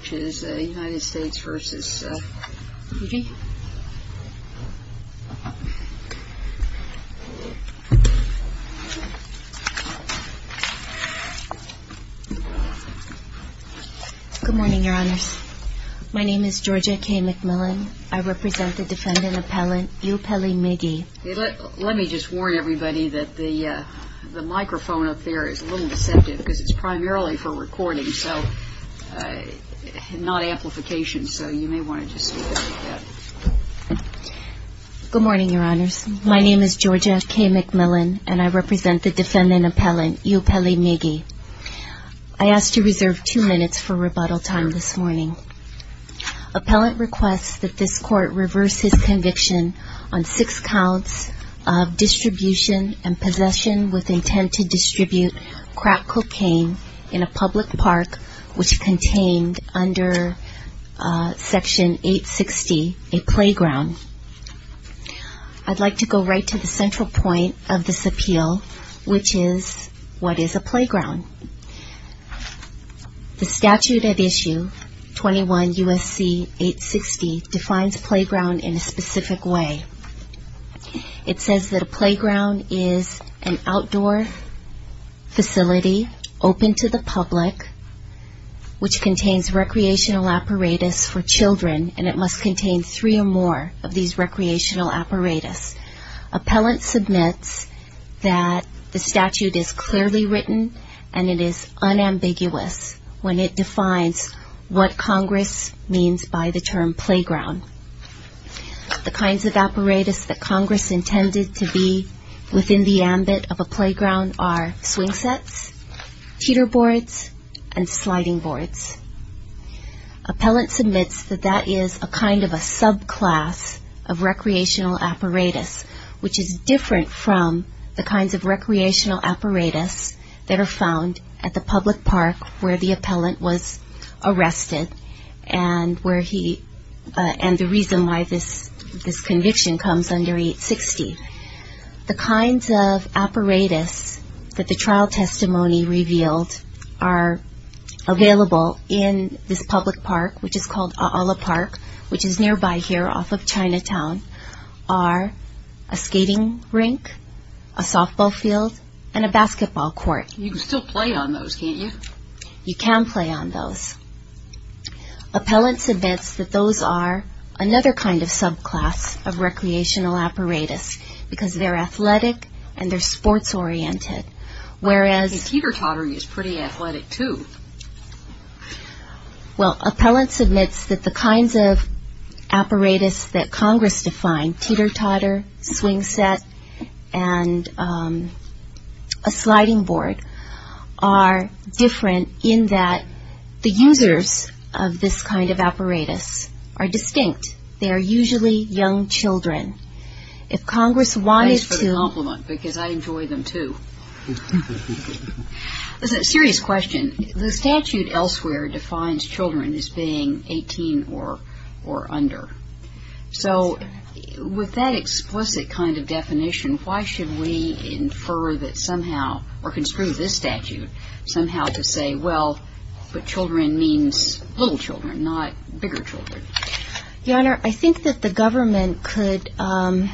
Good morning, your honors. My name is Georgia K. McMillan. I represent the defendant appellant Eupeli Migi. I ask to reserve two minutes for rebuttal time this morning. Appellant requests that this court reverse his conviction on six counts of distribution and possession with intent to distribute crack cocaine in a public park which contained under section 860 a playground. I'd like to go right to the central point of this appeal, which is what is a playground. The statute at issue 21 U.S.C. 860 defines playground in a specific way. It says that a playground is an outdoor facility open to the public which contains recreational apparatus for children and it must contain three or more of these recreational apparatus. Appellant submits that the statute is clearly written and it is unambiguous when it defines what Congress means by the term playground. The kinds of apparatus that Congress intended to be within the ambit of a playground are swing sets, teeter boards, and sliding which is different from the kinds of recreational apparatus that are found at the public park where the appellant was arrested and the reason why this conviction comes under 860. The kinds of apparatus that the trial testimony revealed are available in this public park which is called A'ala Park which is nearby here off of Chinatown are a skating rink, a softball field, and a basketball court. You can still play on those can't you? You can play on those. Appellant submits that those are another kind of subclass of recreational apparatus because they're athletic and they're sports oriented. Whereas teeter tottering is pretty athletic too. Well, appellant submits that the kinds of apparatus that Congress defined teeter totter, swing set, and a sliding board are different in that the users of this kind of apparatus are distinct. They are usually young children. If Congress wanted to. Thanks for the question. The statute elsewhere defines children as being 18 or under. So with that explicit kind of definition, why should we infer that somehow or construe this statute somehow to say, well, but children means little children, not bigger children? Your Honor, I think that the government could have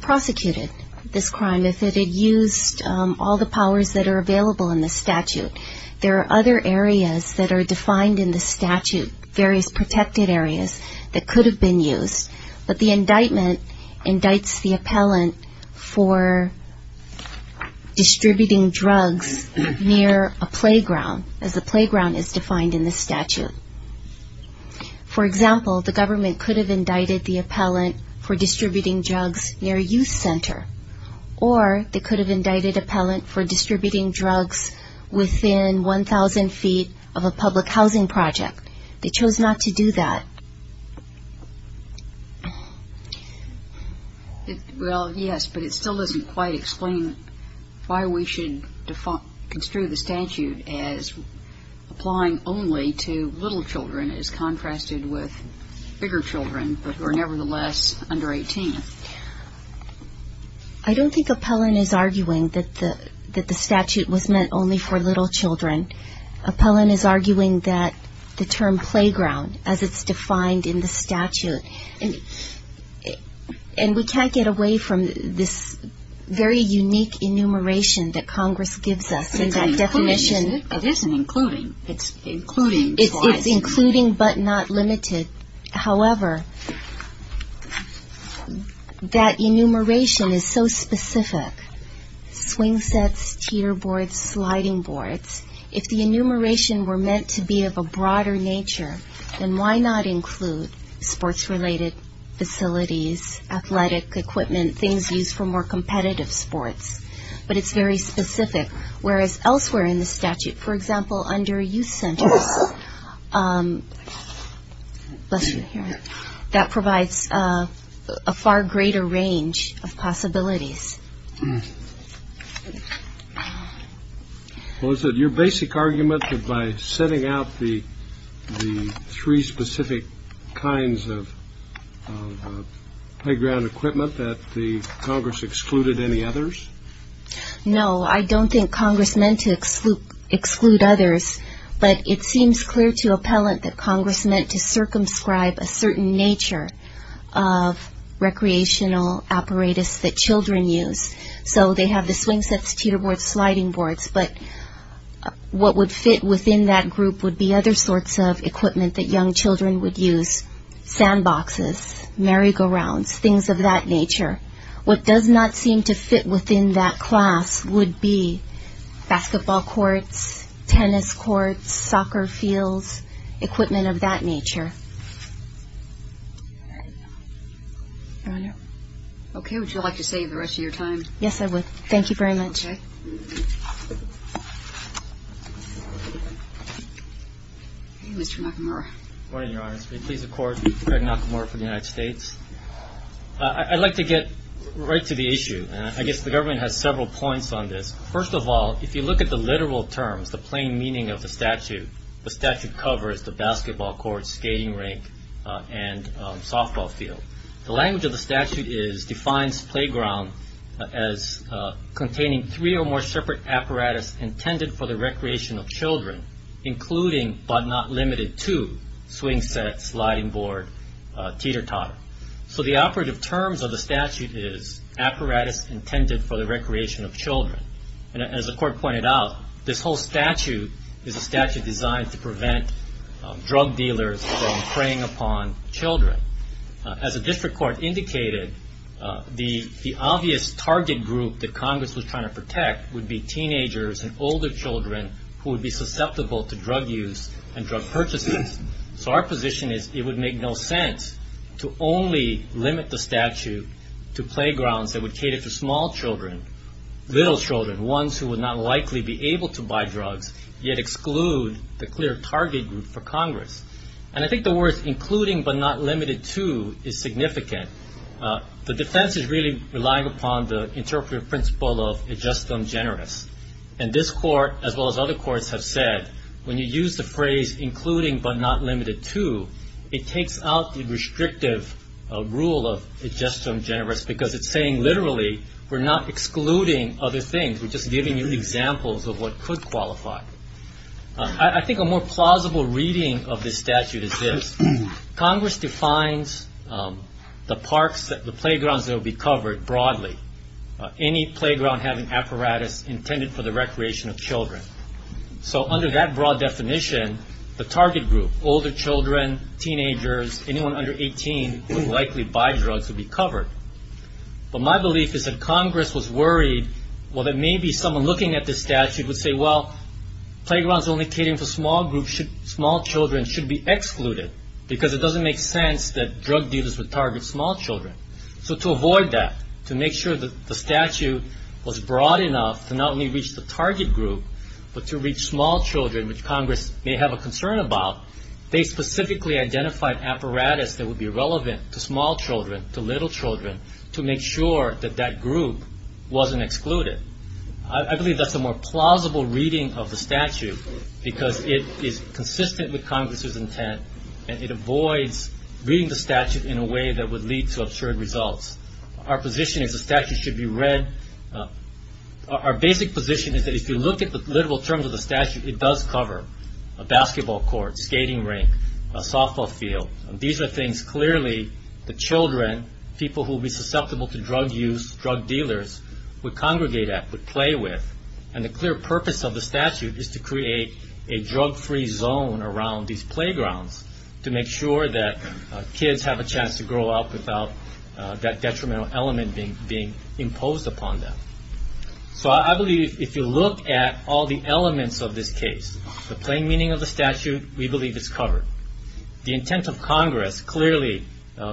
prosecuted this crime if it had used all the powers that are available in the statute. There are other areas that are defined in the statute, various protected areas that could have been used. But the indictment indicts the appellant for distributing drugs near a playground as the playground is defined in the statute. For example, the government could have indicted the appellant for distributing drugs within 1,000 feet of a public housing project. They chose not to do that. Well, yes, but it still doesn't quite explain why we should construe the statute as applying only to little children as contrasted with bigger children who are nevertheless under 18. Your Honor, I don't think appellant is arguing that the statute was meant only for little children. Appellant is arguing that the term playground, as it's defined in the statute – and we can't get away from this very unique enumeration that Congress gives us in that definition. It's including, isn't it? It isn't including. It's including twice. However, that enumeration is so specific – swing sets, teeter boards, sliding boards – if the enumeration were meant to be of a broader nature, then why not include sports-related facilities, athletic equipment, things used for more competitive sports? But it's very – bless your hearing – that provides a far greater range of possibilities. Well, is it your basic argument that by setting out the three specific kinds of playground equipment that the Congress excluded any others? No, I don't think Congress meant to exclude others, but it seems clear to appellant that a certain nature of recreational apparatus that children use. So they have the swing sets, teeter boards, sliding boards, but what would fit within that group would be other sorts of equipment that young children would use – sandboxes, merry-go-rounds, things of that nature. What does not seem to fit within that class would be basketball courts, tennis courts, soccer fields, equipment of that nature. Okay, would you like to save the rest of your time? Yes, I would. Thank you very much. Okay. Mr. Nakamura. Good morning, Your Honor. May it please the Court, Craig Nakamura for the United States. I'd like to get right to the issue. I guess the government has several points on this. First of all, if you look at the literal terms, the plain meaning of the statute, the statute covers the basketball court, skating rink, and softball field. The language of the statute defines playground as containing three or more separate apparatus intended for the recreation of children, including but not limited to swing sets, sliding board, teeter-totter. So the operative terms of the statute is apparatus intended for the recreation of children. As the Court pointed out, this whole statute is a statute designed to prevent drug dealers from preying upon children. As the district court indicated, the obvious target group that Congress was trying to protect would be teenagers and older children who would be susceptible to drug use and drug purchases. So our position is it would make no sense to only limit the statute to playgrounds that would cater to small children, little children, ones who would not likely be able to buy drugs, yet exclude the clear target group for Congress. And I think the words including but not limited to is significant. The defense is really relying upon the interpretive principle of it's just ungenerous. And this Court, as well as other courts have said, when you use the phrase including but not limited to, it takes out the restrictive rule of it's just ungenerous because it's saying literally we're not excluding other things. We're just giving you examples of what could qualify. I think a more plausible reading of this statute is this. Congress defines the playgrounds that will be covered broadly. Any playground having apparatus intended for the recreation of children. So under that broad definition, the target group, older children, teenagers, anyone under 18 would likely buy drugs would be covered. But my belief is that Congress was worried, well, that maybe someone looking at this statute would say, well, playgrounds only catering for small children should be excluded because it doesn't make sense that drug dealers would target small children. So to avoid that, to make sure that the statute was broad enough to not only reach the target group but to reach small children, which Congress may have a concern about, they specifically identified apparatus that would be relevant to small children, to little children, to make sure that that group wasn't excluded. I believe that's a more plausible reading of the statute because it is consistent with Congress's intent and it avoids reading the statute in a way that would lead to absurd results. Our position is the statute should be read, our basic position is that if you look at the literal terms of the statute, it does cover a basketball court, skating rink, a softball field. These are things clearly the children, people who would be susceptible to drug use, drug dealers, would congregate at, would play with. And the clear purpose of the statute is to create a drug-free zone around these playgrounds to make sure that kids have a chance to grow up without that detrimental element being imposed upon them. So I believe if you look at all the elements of this case, the plain meaning of the statute, we believe it's covered. The intent of Congress, clearly,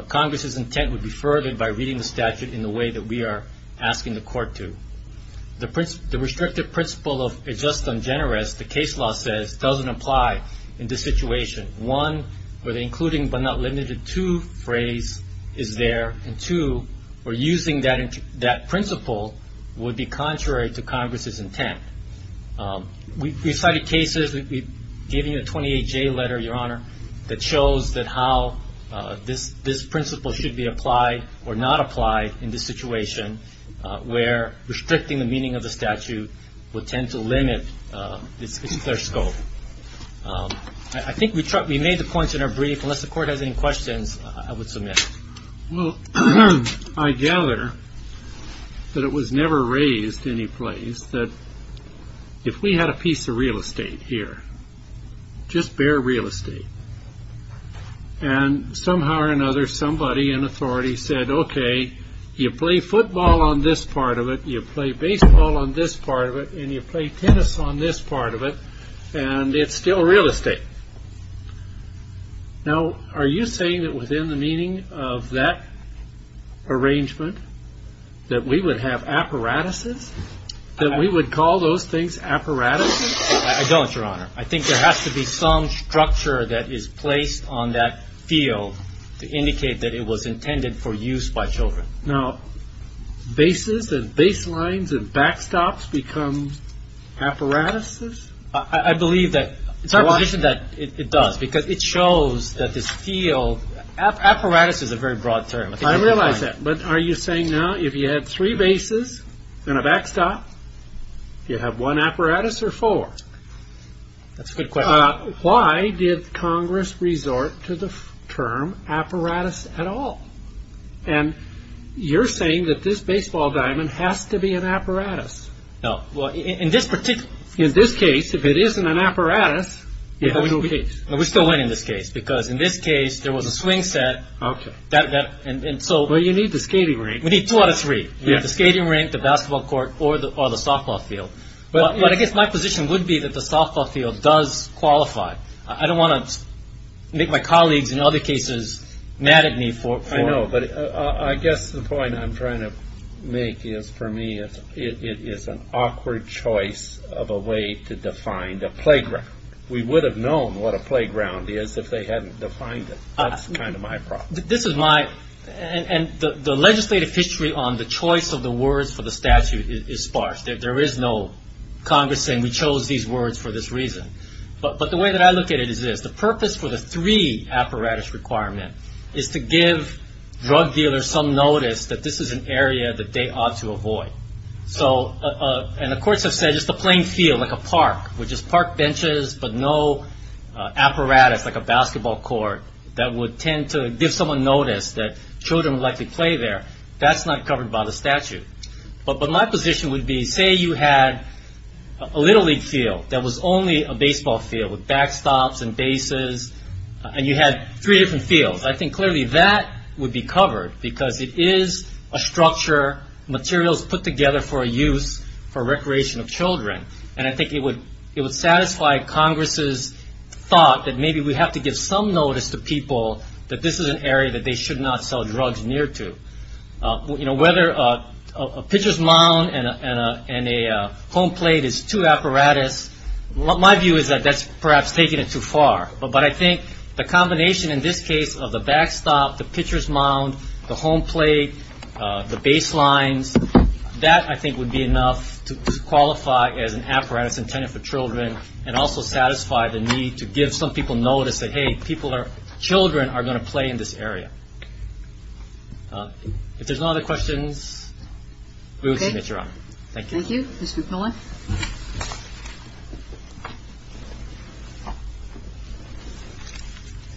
Congress's intent would be furthered by reading the statute in the way that we are asking the court to. The restrictive principle of a just and generous, the case law says, doesn't apply in this situation. One, where would be contrary to Congress's intent. We've cited cases, we've given you a 28-J letter, Your Honor, that shows that how this principle should be applied or not applied in this situation, where restricting the meaning of the statute would tend to limit its clear scope. I think we made the points in our brief. Unless the court has any questions, I would submit. Well, I gather that it was never raised any place that if we had a piece of real estate here, just bare real estate, and somehow or another somebody, an authority said, okay, you play football on this part of it, you play baseball on this part of it, and you play tennis on this part of it, and it's still real estate. Now, are you saying that within the meaning of that arrangement, that we would have apparatuses, that we would call those things apparatuses? I don't, Your Honor. I think there has to be some structure that is placed on that field to indicate that it was intended for use by children. Now, bases and baselines and backstops become apparatuses? I believe that it does, because it shows that this field, apparatus is a very broad term. I realize that, but are you saying now if you had three bases and a backstop, you have one apparatus or four? That's a good question. Why did Congress resort to the term apparatus at all? And you're saying that this baseball diamond has to be an apparatus. No. Well, in this particular, in this case, if it isn't an apparatus, you have no case. We still win in this case, because in this case, there was a swing set. Okay. But you need the skating rink. We need two out of three. We have the skating rink, the basketball court, or the softball field. But I guess my position would be that the softball field does qualify. I don't want to make my colleagues in other cases mad at me for... I know, but I guess the point I'm trying to make is, for me, it is a playground. We would have known what a playground is if they hadn't defined it. That's kind of my problem. This is my... And the legislative history on the choice of the words for the statute is sparse. There is no Congress saying, we chose these words for this reason. But the way that I look at it is this. The purpose for the three apparatus requirement is to give drug dealers some notice that this is an area that they ought to avoid. So... And the courts have said, just a plain field, like a park, with just park benches, but no apparatus, like a basketball court, that would tend to give someone notice that children would likely play there. That's not covered by the statute. But my position would be, say you had a Little League field that was only a baseball field, with backstops and bases, and you had three different fields. I think clearly that would be covered, because it is a structure, materials put together for use for recreation of children. And I think it would satisfy Congress' thought that maybe we have to give some notice to people that this is an area that they should not sell drugs near to. Whether a pitcher's mound and a home plate is two apparatus, my view is that that's perhaps taking it too far. But I think the combination in this case of the backstop, the pitcher's mound, the home plate, the baselines, that I think would be enough to qualify as an apparatus intended for children, and also satisfy the need to give some people notice that, hey, people are, children are going to play in this area. If there's no other questions, we will submit your honor. Thank you. Okay. Thank you. Ms. McMillan.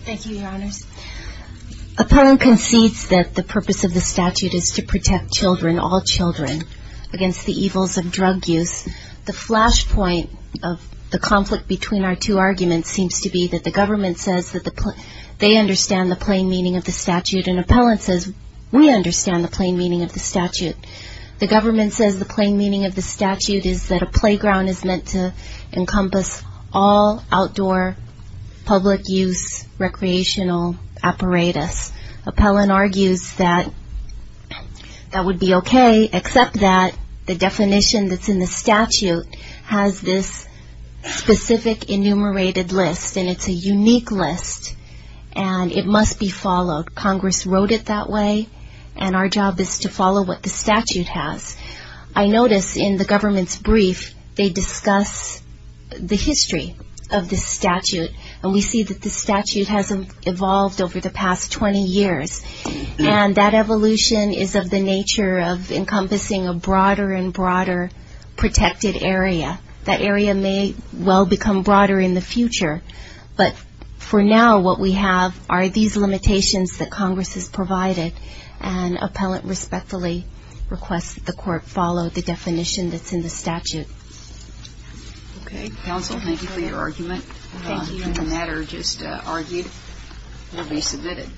Thank you, your honors. Appellant concedes that the purpose of the statute is to protect children, all children, against the evils of drug use. The flashpoint of the conflict between our two arguments seems to be that the government says that they understand the plain meaning of the statute, and appellant says we understand the plain meaning of the to encompass all outdoor public use recreational apparatus. Appellant argues that that would be okay, except that the definition that's in the statute has this specific enumerated list, and it's a unique list, and it must be followed. Congress wrote it that way, and our job is to follow what the statute has. I notice in the government's brief, they discuss the history of the statute, and we see that the statute has evolved over the past 20 years, and that evolution is of the nature of encompassing a broader and broader protected area. That area may well become broader in the future, but for now, what we have are these limitations that Congress has provided, and appellant respectfully requests that the court follow the definition that's in the statute. Okay. Counsel, thank you for your argument. Thank you. And the matter just argued will be submitted.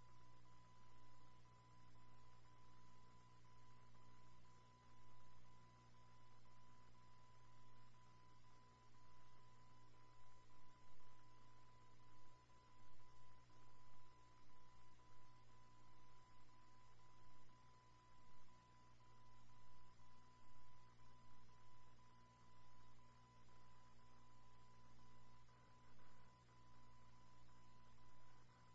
Thank you. Thank you. Thank you. Thank you. Thank you.